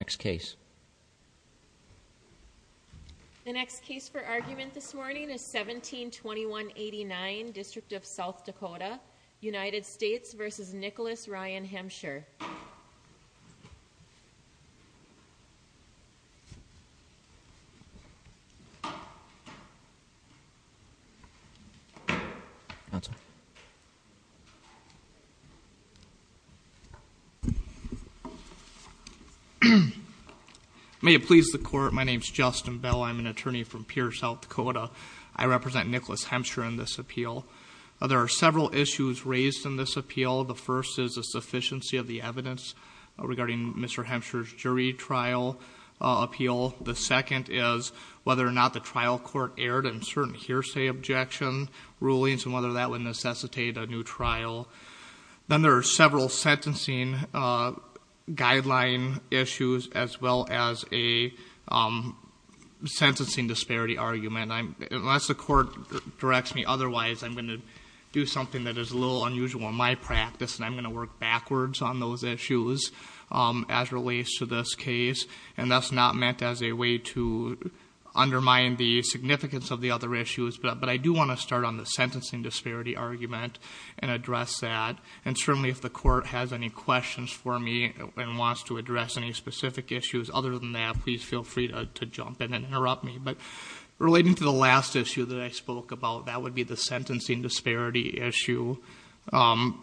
The next case for argument this morning is 172189, District of South Dakota, United States v. Nicholas Ryan Hemsher. May it please the court, my name is Justin Bell. I'm an attorney from Pierce, South Dakota. I represent Nicholas Hemsher in this appeal. There are several issues raised in this appeal. The first is a sufficiency of the evidence regarding Mr. Hemsher's jury trial appeal. The second is whether or not the trial court erred in certain hearsay objection rulings and whether that would necessitate a new trial. Then there are several sentencing guideline issues as well as a sentencing disparity argument. Unless the court directs me otherwise, I'm going to do something that is a little unusual in my practice and I'm going to work backwards on those issues as it relates to this case. And that's not meant as a way to undermine the significance of the other issues, but I do want to start on the sentencing disparity argument and address that. And certainly if the court has any questions for me and wants to address any specific issues other than that, please feel free to jump in and interrupt me. But relating to the last issue that I spoke about, that would be the sentencing disparity issue.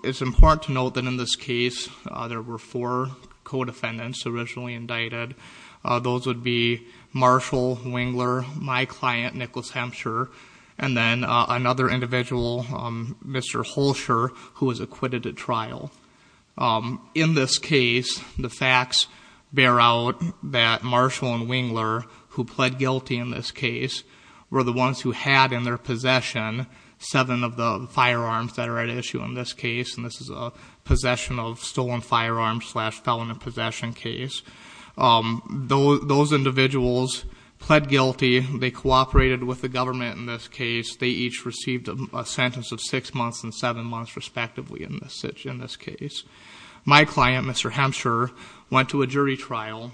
It's important to note that in this case, there were four co-defendants originally indicted. Those would be Marshall Wingler, my client, Nicholas Hemsher, and then another individual, Mr. Holsher, who was acquitted at trial. In this case, the facts bear out that Marshall and Wingler, who pled guilty in this case, were the ones who had in their possession seven of the firearms that are at issue in this case. And this is a possession of stolen firearms slash felon in possession case. Those individuals pled guilty. They cooperated with the government in this case. They each received a sentence of six months and seven months, respectively, in this case. My client, Mr. Hemsher, went to a jury trial.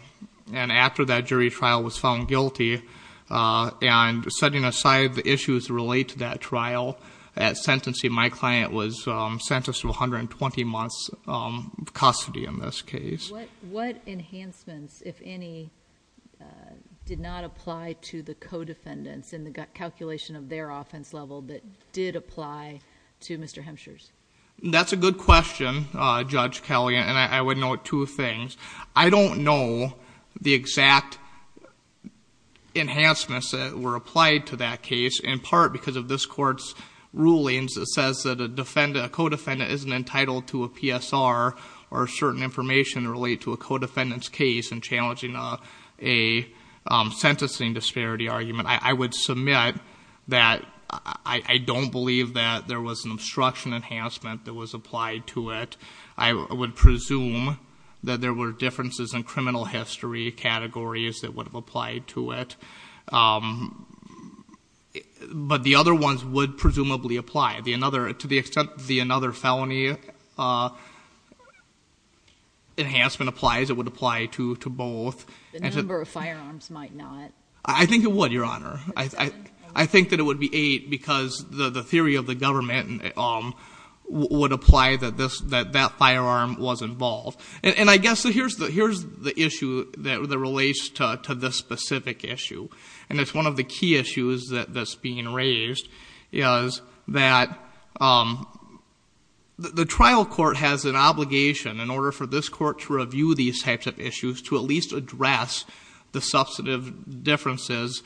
And after that jury trial was found guilty, and setting aside the issues related to that trial, at sentencing, my client was sentenced to 120 months of custody in this case. What enhancements, if any, did not apply to the co-defendants in the calculation of their offense level that did apply to Mr. Hemsher's? That's a good question, Judge Kelley, and I would note two things. I don't know the exact enhancements that were applied to that case, in part because of this court's rulings that says that a defendant, a co-defendant, isn't entitled to a PSR or certain information related to a co-defendant's case in challenging a sentencing disparity argument. I would submit that I don't believe that there was an obstruction enhancement that was applied to it. I would presume that there were differences in criminal history categories that would have applied to it. But the other ones would presumably apply. To the extent that another felony enhancement applies, it would apply to both. The number of firearms might not. I think it would, Your Honor. I think that it would be eight, because the theory of the government would apply that that firearm was involved. And I guess, here's the issue that relates to this specific issue. And it's one of the key issues that's being raised, is that the trial court has an obligation, in order for this court to review these types of issues, to at least address the substantive differences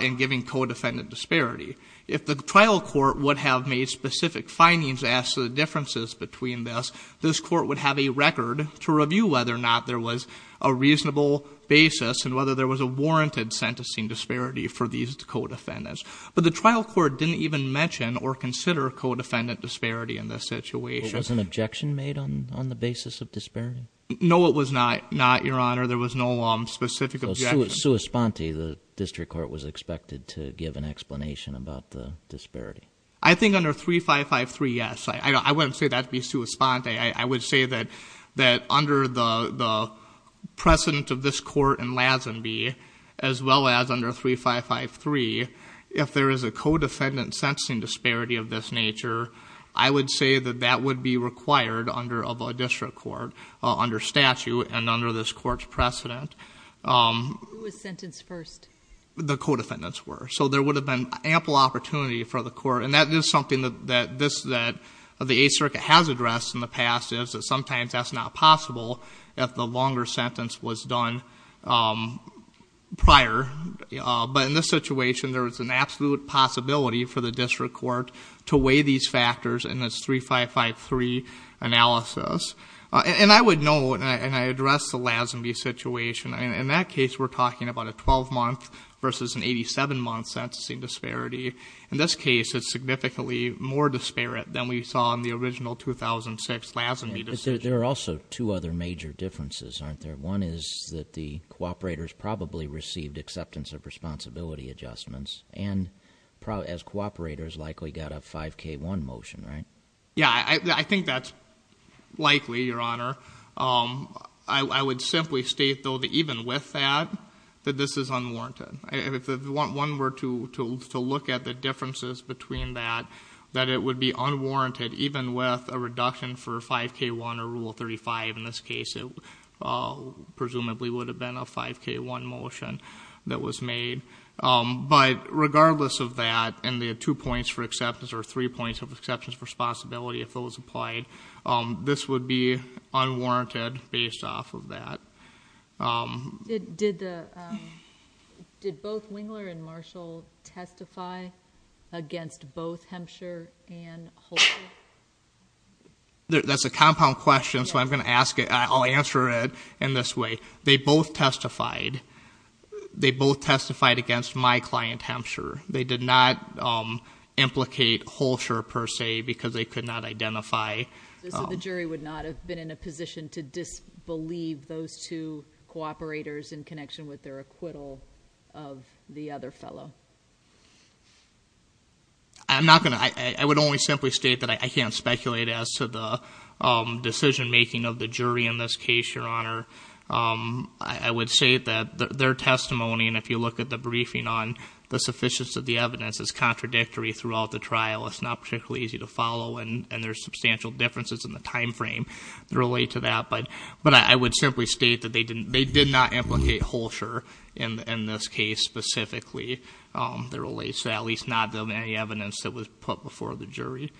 in giving co-defendant disparity. If the trial court would have made specific findings as to the differences between this, this court would have a record to review whether or not there was a reasonable basis and whether there was a warranted sentencing disparity for these co-defendants. But the trial court didn't even mention or consider co-defendant disparity in this situation. So, was an objection made on the basis of disparity? No, it was not, Your Honor. There was no specific objection. So, sui sponte, the district court was expected to give an explanation about the disparity. I think under 3553, yes. I wouldn't say that'd be sui sponte. I would say that under the precedent of this court in Lazenby, as well as under 3553, if there is a co-defendant sentencing disparity of this nature, I would say that that would be required of a district court under statute and under this court's precedent. Who was sentenced first? The co-defendants were. So, there would have been ample opportunity for the court. And that is something that the Eighth Circuit has addressed in the past, is that sometimes that's not possible if the longer sentence was done prior. But in this situation, there was an absolute possibility for the district court to weigh these factors in this 3553 analysis. And I would note, and I addressed the Lazenby situation, in that case we're talking about a 12-month versus an 87-month sentencing disparity. In this case, it's significantly more disparate than we saw in the original 2006 Lazenby decision. There are also two other major differences, aren't there? One is that the cooperators probably received acceptance of responsibility adjustments, and as cooperators, likely got a 5K1 motion, right? Yeah, I think that's likely, Your Honor. I would simply state, though, that even with that, that this is unwarranted. If one were to look at the differences between that, that it would be unwarranted, even with a reduction for 5K1 or Rule 35 in this case, it presumably would have been a 5K1 motion that was made. But regardless of that, and the two points for acceptance, or three points of acceptance for responsibility if those applied, this would be unwarranted based off of that. Did both Wingler and Marshall testify against both Hempshire and Holsher? That's a compound question, so I'm going to ask it. I'll answer it in this way. They both testified. They both testified against my client, Hempshire. They did not implicate Holsher, per se, because they could not identify. So the jury would not have been in a position to disbelieve those two cooperators in connection with their acquittal of the other fellow? I'm not going to. I would only simply state that I can't speculate as to the decision-making of the jury in this case, Your Honor. I would state that their testimony, and if you look at the briefing on the sufficiency of the evidence, is contradictory throughout the trial. It's not particularly easy to follow, and there's substantial differences in the time frame that relate to that. But I would simply state that they did not implicate Holsher in this case specifically, at least not in any evidence that was put before the jury.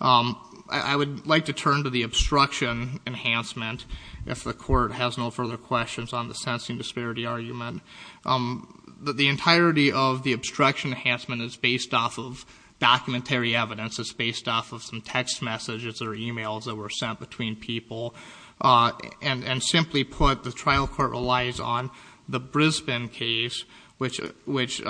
I would like to turn to the obstruction enhancement, if the Court has no further questions on the sensing disparity argument. The entirety of the obstruction enhancement is based off of documentary evidence. It's based off of some text messages or emails that were sent between people. And simply put, the trial court relies on the Brisbane case, which is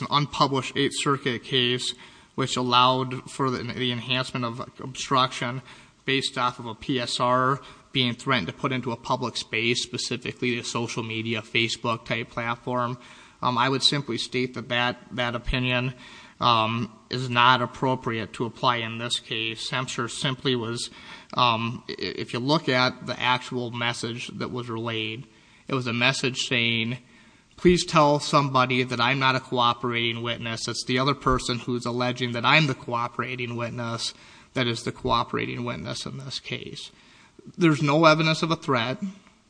an unpublished Eighth Circuit case, which allowed for the enhancement of obstruction based off of a PSR being threatened to put into a public space, specifically a social media, Facebook-type platform. I would simply state that that opinion is not appropriate to apply in this case. Hampshire simply was, if you look at the actual message that was relayed, it was a message saying, please tell somebody that I'm not a cooperating witness. It's the other person who's alleging that I'm the cooperating witness that is the cooperating witness in this case. There's no evidence of a threat.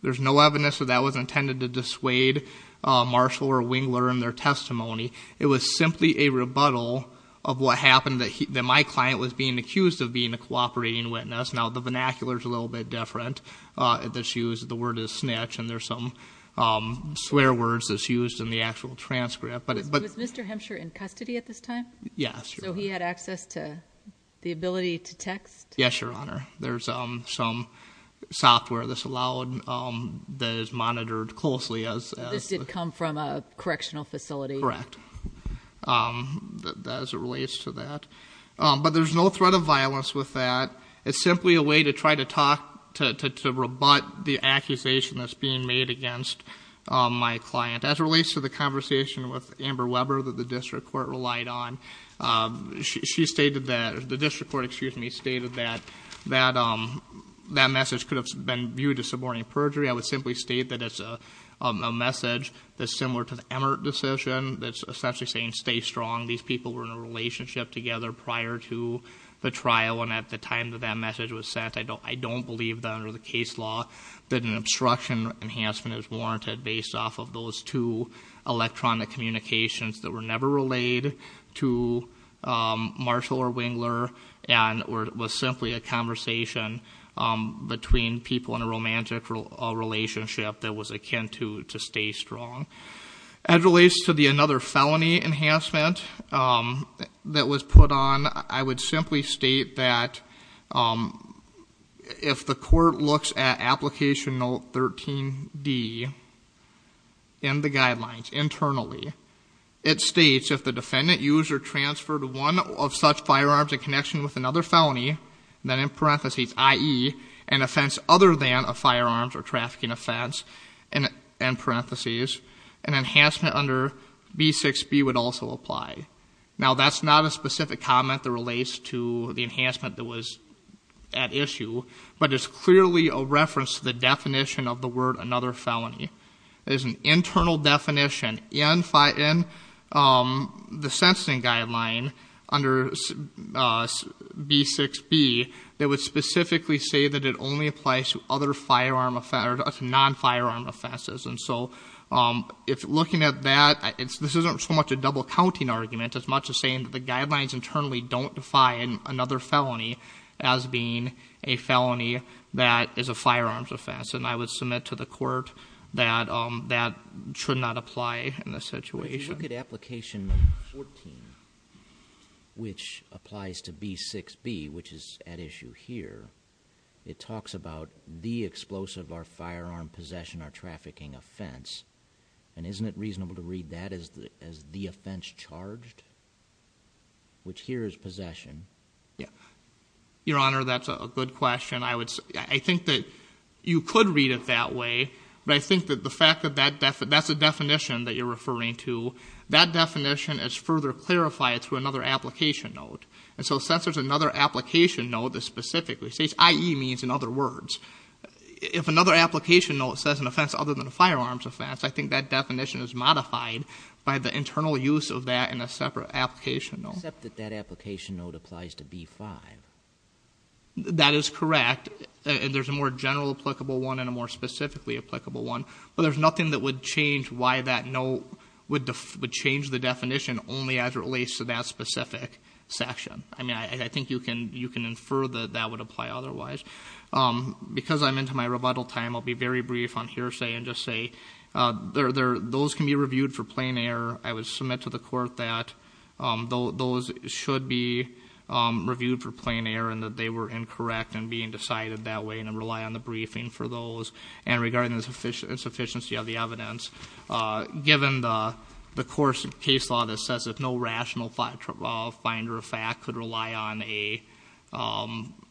There's no evidence that that was intended to dissuade Marshall or Wingler in their testimony. It was simply a rebuttal of what happened, that my client was being accused of being a cooperating witness. Now, the vernacular is a little bit different. The word is snitch, and there's some swear words that's used in the actual transcript. Was Mr. Hampshire in custody at this time? Yes. So he had access to the ability to text? Yes, Your Honor. There's some software that's allowed that is monitored closely as- This did come from a correctional facility? Correct, as it relates to that. But there's no threat of violence with that. It's simply a way to try to talk, to rebut the accusation that's being made against my client. As it relates to the conversation with Amber Weber that the district court relied on, she stated that, the district court, excuse me, stated that that message could have been viewed as suborning perjury. I would simply state that it's a message that's similar to the Emmert decision, that's essentially saying stay strong. These people were in a relationship together prior to the trial, and at the time that that message was sent, I don't believe that under the case law that an obstruction enhancement is warranted based off of those two Marshall or Wingler, and it was simply a conversation between people in a romantic relationship that was akin to stay strong. As it relates to another felony enhancement that was put on, I would simply state that if the court looks at application note 13D in the guidelines internally, it states if the defendant used or transferred one of such firearms in connection with another felony, then in parentheses, i.e., an offense other than a firearms or trafficking offense, and in parentheses, an enhancement under B6B would also apply. Now, that's not a specific comment that relates to the enhancement that was at issue, but it's clearly a reference to the definition of the word another felony. There's an internal definition in the sentencing guideline under B6B that would specifically say that it only applies to other non-firearm offenses, and so if looking at that, this isn't so much a double-counting argument as much as saying that the guidelines internally don't define another felony as being a felony that is a firearms offense, and I would submit to the court that that should not apply in this situation. If you look at application 14, which applies to B6B, which is at issue here, it talks about the explosive or firearm possession or trafficking offense, and isn't it reasonable to read that as the offense charged, which here is possession? Your Honor, that's a good question. I think that you could read it that way, but I think that the fact that that's the definition that you're referring to, that definition is further clarified through another application note, and so since there's another application note that specifically says, i.e., means in other words, if another application note says an offense other than a firearms offense, I think that definition is modified by the internal use of that in a separate application note. I accept that that application note applies to B5. That is correct, and there's a more general applicable one and a more specifically applicable one, but there's nothing that would change why that note would change the definition only as it relates to that specific section. I mean, I think you can infer that that would apply otherwise. Because I'm into my rebuttal time, I'll be very brief on hearsay and just say those can be reviewed for plain error. I would submit to the court that those should be reviewed for plain error, and that they were incorrect in being decided that way, and I rely on the briefing for those. And regarding the insufficiency of the evidence, given the course of case law that says if no rational finder of fact could rely on a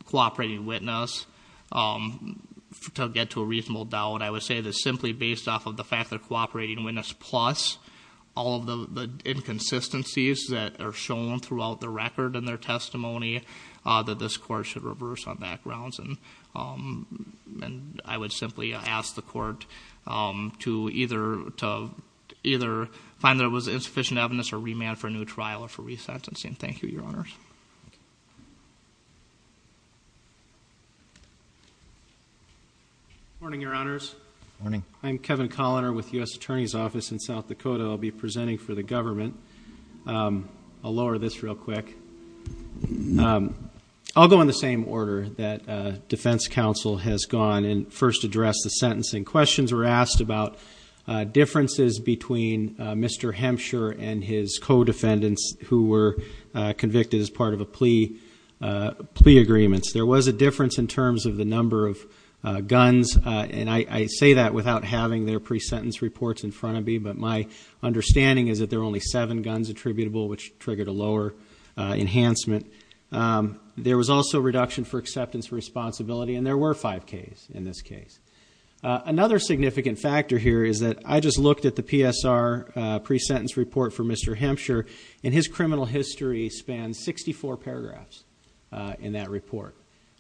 cooperating witness to get to a reasonable doubt, I would say that simply based off of the fact that cooperating witness plus all of the inconsistencies that are shown throughout the record in their testimony, that this court should reverse on backgrounds. And I would simply ask the court to either find that it was insufficient evidence or remand for a new trial or for resentencing. Thank you, Your Honors. Morning, Your Honors. Morning. I'm Kevin Colliner with the U.S. Attorney's Office in South Dakota. I'll be presenting for the government. I'll lower this real quick. I'll go in the same order that defense counsel has gone and first addressed the sentencing. Questions were asked about differences between Mr. Hempshire and his co-defendants who were convicted as part of the plea agreements. There was a difference in terms of the number of guns, and I say that without having their pre-sentence reports in front of me, but my understanding is that there were only seven guns attributable, which triggered a lower enhancement. There was also a reduction for acceptance responsibility, and there were five Ks in this case. Another significant factor here is that I just looked at the PSR pre-sentence report for Mr. Hempshire, and his criminal history spans 64 paragraphs in that report.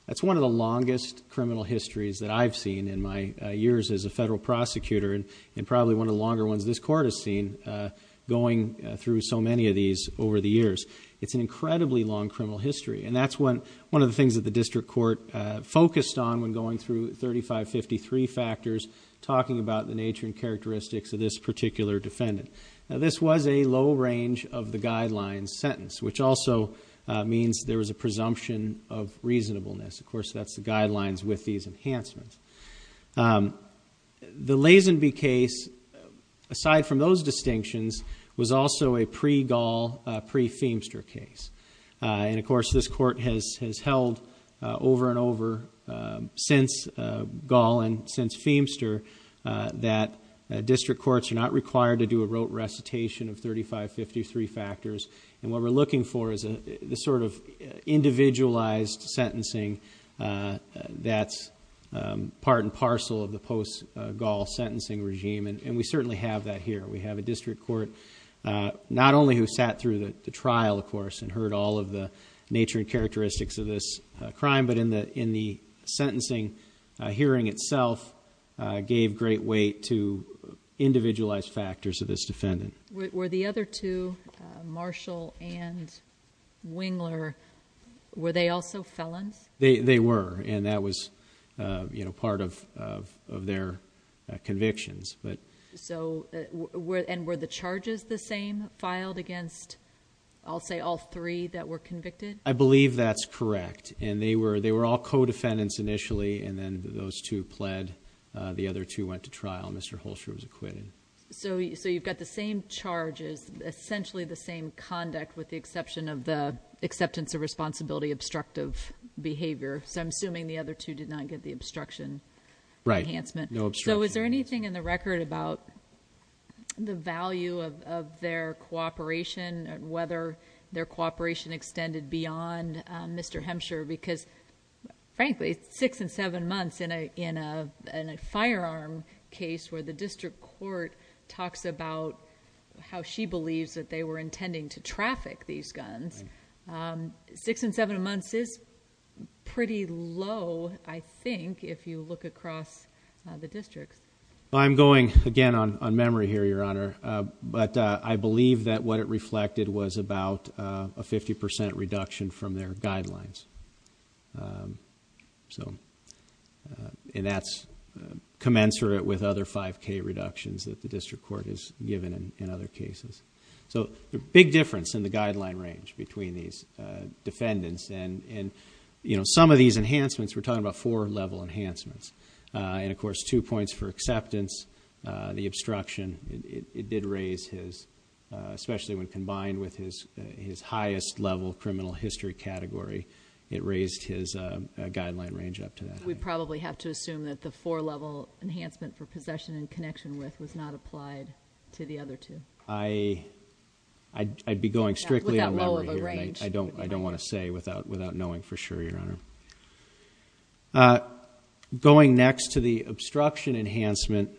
That's one of the longest criminal histories that I've seen in my years as a federal prosecutor, and probably one of the longer ones this court has seen going through so many of these over the years. It's an incredibly long criminal history, and that's one of the things that the district court focused on when going through 3553 factors, talking about the nature and characteristics of this particular defendant. Now, this was a low range of the guidelines sentence, which also means there was a presumption of reasonableness. Of course, that's the guidelines with these enhancements. The Lazenby case, aside from those distinctions, was also a pre-Gaul, pre-Feimster case. Of course, this court has held over and over since Gaul and since Feimster that district courts are not required to do a rote recitation of 3553 factors, and what we're looking for is this sort of individualized sentencing that's part and parcel of the post-Gaul sentencing regime, and we certainly have that here. We have a district court not only who sat through the trial, of course, and heard all of the nature and characteristics of this crime, but in the sentencing hearing itself gave great weight to individualized factors of this defendant. Were the other two, Marshall and Wingler, were they also felons? They were, and that was part of their convictions. Were the charges the same filed against, I'll say, all three that were convicted? I believe that's correct, and they were all co-defendants initially, and then those two pled, the other two went to trial, and Mr. Holsher was acquitted. So you've got the same charges, essentially the same conduct with the exception of the acceptance of responsibility obstructive behavior. So I'm assuming the other two did not get the obstruction enhancement. Right, no obstruction. So is there anything in the record about the value of their cooperation and whether their cooperation extended beyond Mr. Hemsher? Because, frankly, six and seven months in a firearm case where the district court talks about how she believes that they were intending to traffic these guns, six and seven months is pretty low, I think, if you look across the districts. I'm going, again, on memory here, Your Honor, but I believe that what it reflected was about a 50% reduction from their guidelines. And that's commensurate with other 5K reductions that the district court has given in other cases. So the big difference in the guideline range between these defendants and some of these enhancements, we're talking about four-level enhancements. And, of course, two points for acceptance, the obstruction, it did raise his, especially when combined with his highest-level criminal history category, it raised his guideline range up to that. We probably have to assume that the four-level enhancement for possession and connection with was not applied to the other two. I'd be going strictly on memory here. I don't want to say without knowing for sure, Your Honor. Going next to the obstruction enhancement,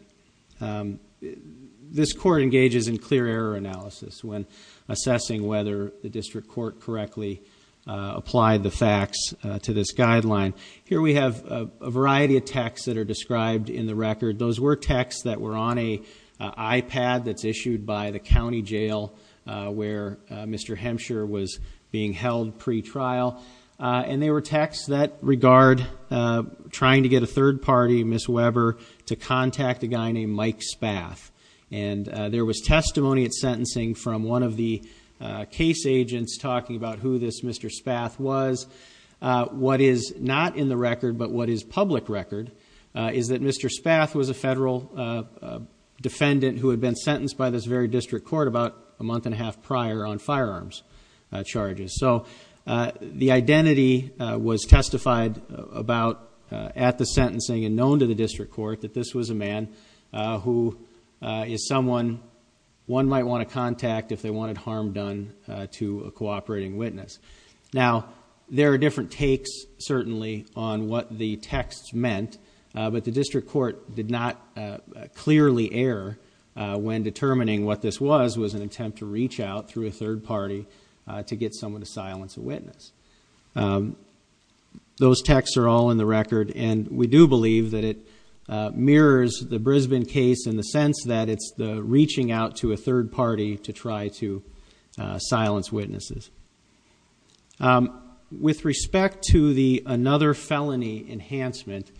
this court engages in clear error analysis when assessing whether the district court correctly applied the facts to this guideline. Here we have a variety of texts that are described in the record. Those were texts that were on an iPad that's issued by the county jail where Mr. Hempshire was being held pretrial. And they were texts that regard trying to get a third party, Ms. Weber, to contact a guy named Mike Spath. And there was testimony at sentencing from one of the case agents talking about who this Mr. Spath was. What is not in the record but what is public record is that Mr. Spath was a federal defendant who had been sentenced by this very district court about a month and a half prior on firearms charges. So the identity was testified about at the sentencing and known to the district court that this was a man who is someone one might want to contact if they wanted harm done to a cooperating witness. Now, there are different takes, certainly, on what the texts meant, but the district court did not clearly err when determining what this was. This was an attempt to reach out through a third party to get someone to silence a witness. Those texts are all in the record, and we do believe that it mirrors the Brisbane case in the sense that it's the reaching out to a third party to try to silence witnesses. With respect to the another felony enhancement,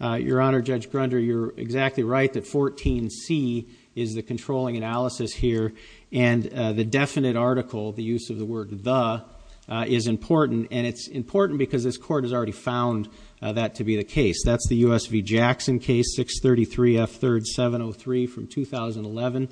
Your Honor, Judge Grunder, you're exactly right that 14C is the controlling analysis here, and the definite article, the use of the word the, is important, and it's important because this court has already found that to be the case. That's the U.S. v. Jackson case, 633 F 3rd 703 from 2011,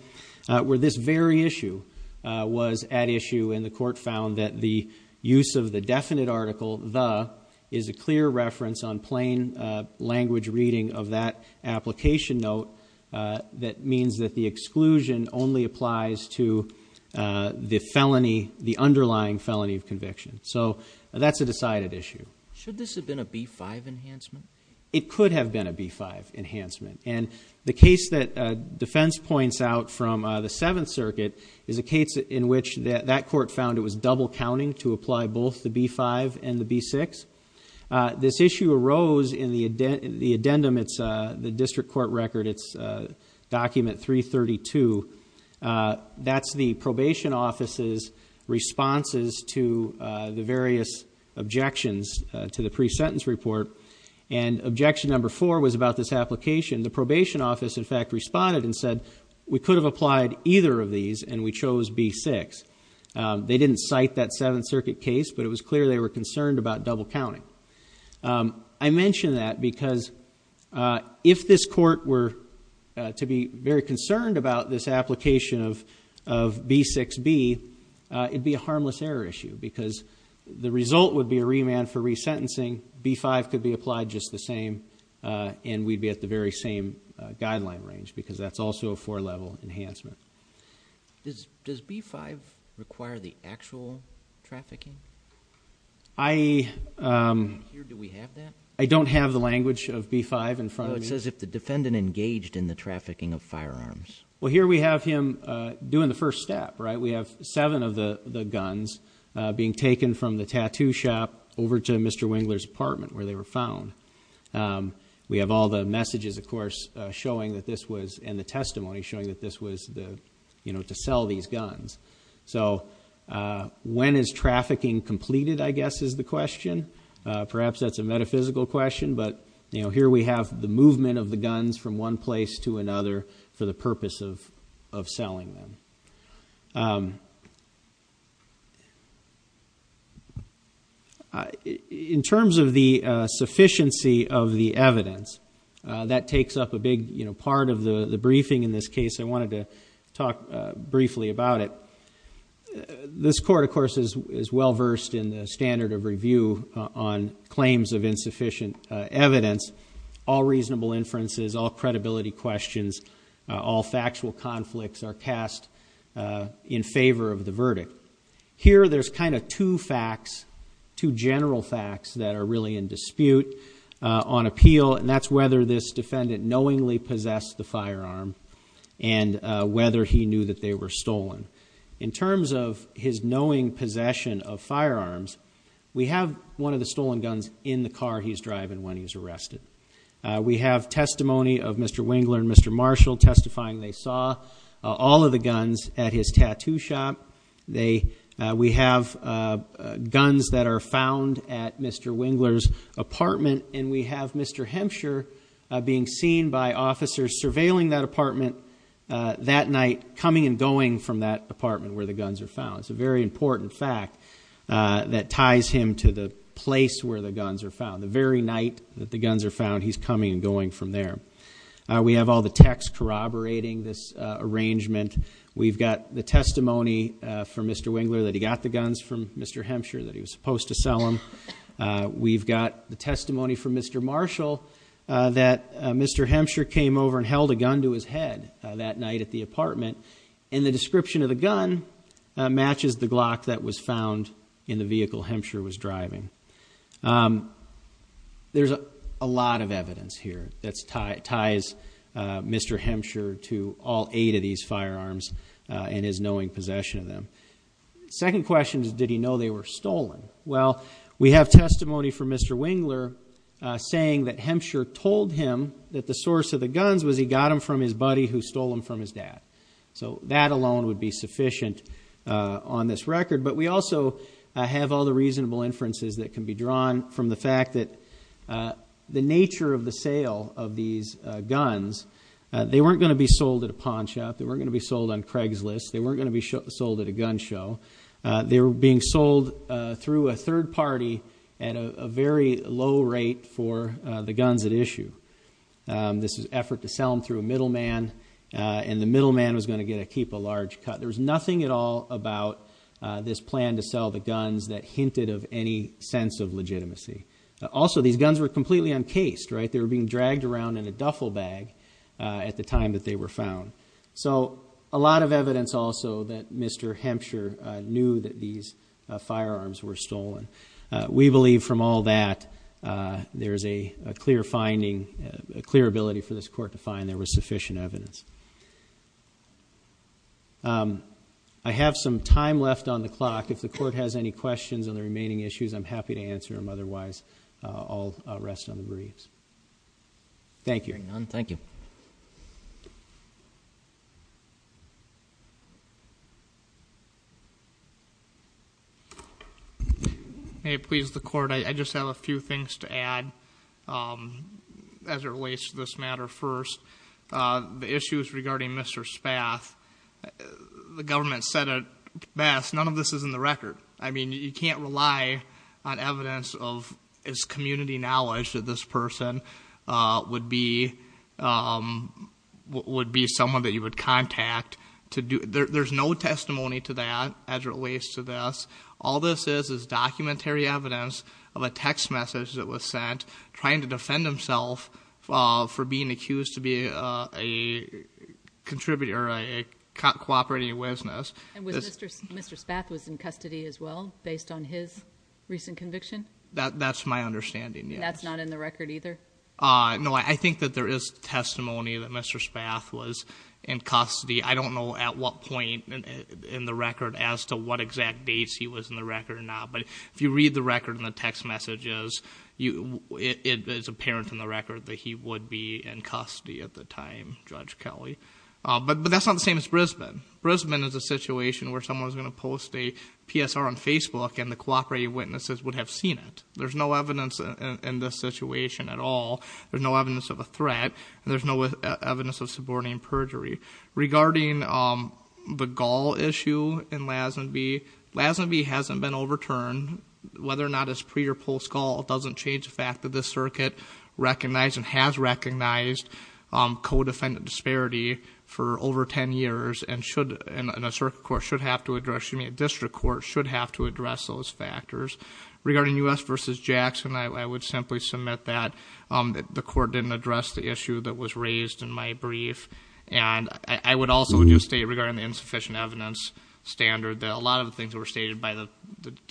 where this very issue was at issue, and the court found that the use of the definite article the is a clear reference on plain language reading of that application note that means that the exclusion only applies to the underlying felony of conviction. So that's a decided issue. Should this have been a B-5 enhancement? It could have been a B-5 enhancement, and the case that defense points out from the Seventh Circuit is a case in which that court found it was double counting to apply both the B-5 and the B-6. This issue arose in the addendum. It's the district court record. It's document 332. That's the probation office's responses to the various objections to the pre-sentence report, and objection number four was about this application. The probation office, in fact, responded and said we could have applied either of these, and we chose B-6. They didn't cite that Seventh Circuit case, but it was clear they were concerned about double counting. I mention that because if this court were to be very concerned about this application of B-6B, it would be a harmless error issue because the result would be a remand for resentencing. B-5 could be applied just the same, and we'd be at the very same guideline range because that's also a four-level enhancement. Does B-5 require the actual trafficking? I don't have the language of B-5 in front of me. No, it says if the defendant engaged in the trafficking of firearms. Well, here we have him doing the first step, right? We have seven of the guns being taken from the tattoo shop over to Mr. Wingler's apartment where they were found. We have all the messages, of course, showing that this was, and the testimony showing that this was to sell these guns. So when is trafficking completed, I guess, is the question. Perhaps that's a metaphysical question, but here we have the movement of the guns from one place to another for the purpose of selling them. In terms of the sufficiency of the evidence, that takes up a big part of the briefing in this case. I wanted to talk briefly about it. This court, of course, is well-versed in the standard of review on claims of insufficient evidence. All reasonable inferences, all credibility questions, all factual conflicts are cast in favor of the verdict. Here there's kind of two facts, two general facts that are really in dispute on appeal, and that's whether this defendant knowingly possessed the firearm and whether he knew that they were stolen. In terms of his knowing possession of firearms, we have one of the stolen guns in the car he's driving when he was arrested. We have testimony of Mr. Wingler and Mr. Marshall testifying they saw all of the guns at his tattoo shop. We have guns that are found at Mr. Wingler's apartment, and we have Mr. Hempshire being seen by officers surveilling that apartment that night, coming and going from that apartment where the guns are found. It's a very important fact that ties him to the place where the guns are found. The very night that the guns are found, he's coming and going from there. We have all the text corroborating this arrangement. We've got the testimony from Mr. Wingler that he got the guns from Mr. Hempshire, that he was supposed to sell them. We've got the testimony from Mr. Marshall that Mr. Hempshire came over and held a gun to his head that night at the apartment, and the description of the gun matches the Glock that was found in the vehicle Hempshire was driving. There's a lot of evidence here that ties Mr. Hempshire to all eight of these firearms and his knowing possession of them. The second question is, did he know they were stolen? Well, we have testimony from Mr. Wingler saying that Hempshire told him that the source of the guns was he got them from his buddy who stole them from his dad. So that alone would be sufficient on this record. But we also have all the reasonable inferences that can be drawn from the fact that the nature of the sale of these guns, they weren't going to be sold at a pawn shop, they weren't going to be sold on Craigslist, they weren't going to be sold at a gun show. They were being sold through a third party at a very low rate for the guns at issue. This was an effort to sell them through a middleman, and the middleman was going to get to keep a large cut. There was nothing at all about this plan to sell the guns that hinted of any sense of legitimacy. Also, these guns were completely uncased, right? They were being dragged around in a duffel bag at the time that they were found. So a lot of evidence also that Mr. Hempshire knew that these firearms were stolen. We believe from all that there is a clear finding, a clear ability for this court to find there was sufficient evidence. I have some time left on the clock. If the court has any questions on the remaining issues, I'm happy to answer them. Otherwise, I'll rest on the briefs. Thank you. Hearing none, thank you. May it please the court, I just have a few things to add as it relates to this matter first. The issues regarding Mr. Spath, the government said it best, none of this is in the record. I mean, you can't rely on evidence of his community knowledge that this person would be someone that you would contact. There's no testimony to that as it relates to this. All this is is documentary evidence of a text message that was sent, trying to defend himself for being accused to be a contributor, a cooperating business. And Mr. Spath was in custody as well based on his recent conviction? That's my understanding, yes. That's not in the record either? No, I think that there is testimony that Mr. Spath was in custody. I don't know at what point in the record as to what exact dates he was in the record or not. But if you read the record and the text messages, it is apparent in the record that he would be in custody at the time, Judge Kelly. But that's not the same as Brisbane. Brisbane is a situation where someone's going to post a PSR on Facebook, and the cooperating witnesses would have seen it. There's no evidence in this situation at all. There's no evidence of a threat, and there's no evidence of suborning perjury. Regarding the Gaul issue in Lazenby, Lazenby hasn't been overturned, whether or not it's pre- or post-Gaul doesn't change the fact that this circuit recognized and has recognized co-defendant disparity for over ten years and a district court should have to address those factors. Regarding U.S. v. Jackson, I would simply submit that the court didn't address the issue that was raised in my brief. And I would also just state regarding the insufficient evidence standard that a lot of the things that were stated by the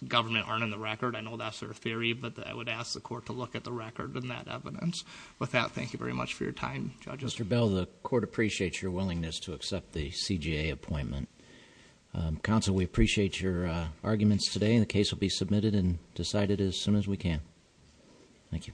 government aren't in the record. I know that's their theory, but I would ask the court to look at the record and that evidence. With that, thank you very much for your time, judges. Mr. Bell, the court appreciates your willingness to accept the CJA appointment. Counsel, we appreciate your arguments today, and the case will be submitted and decided as soon as we can. Thank you.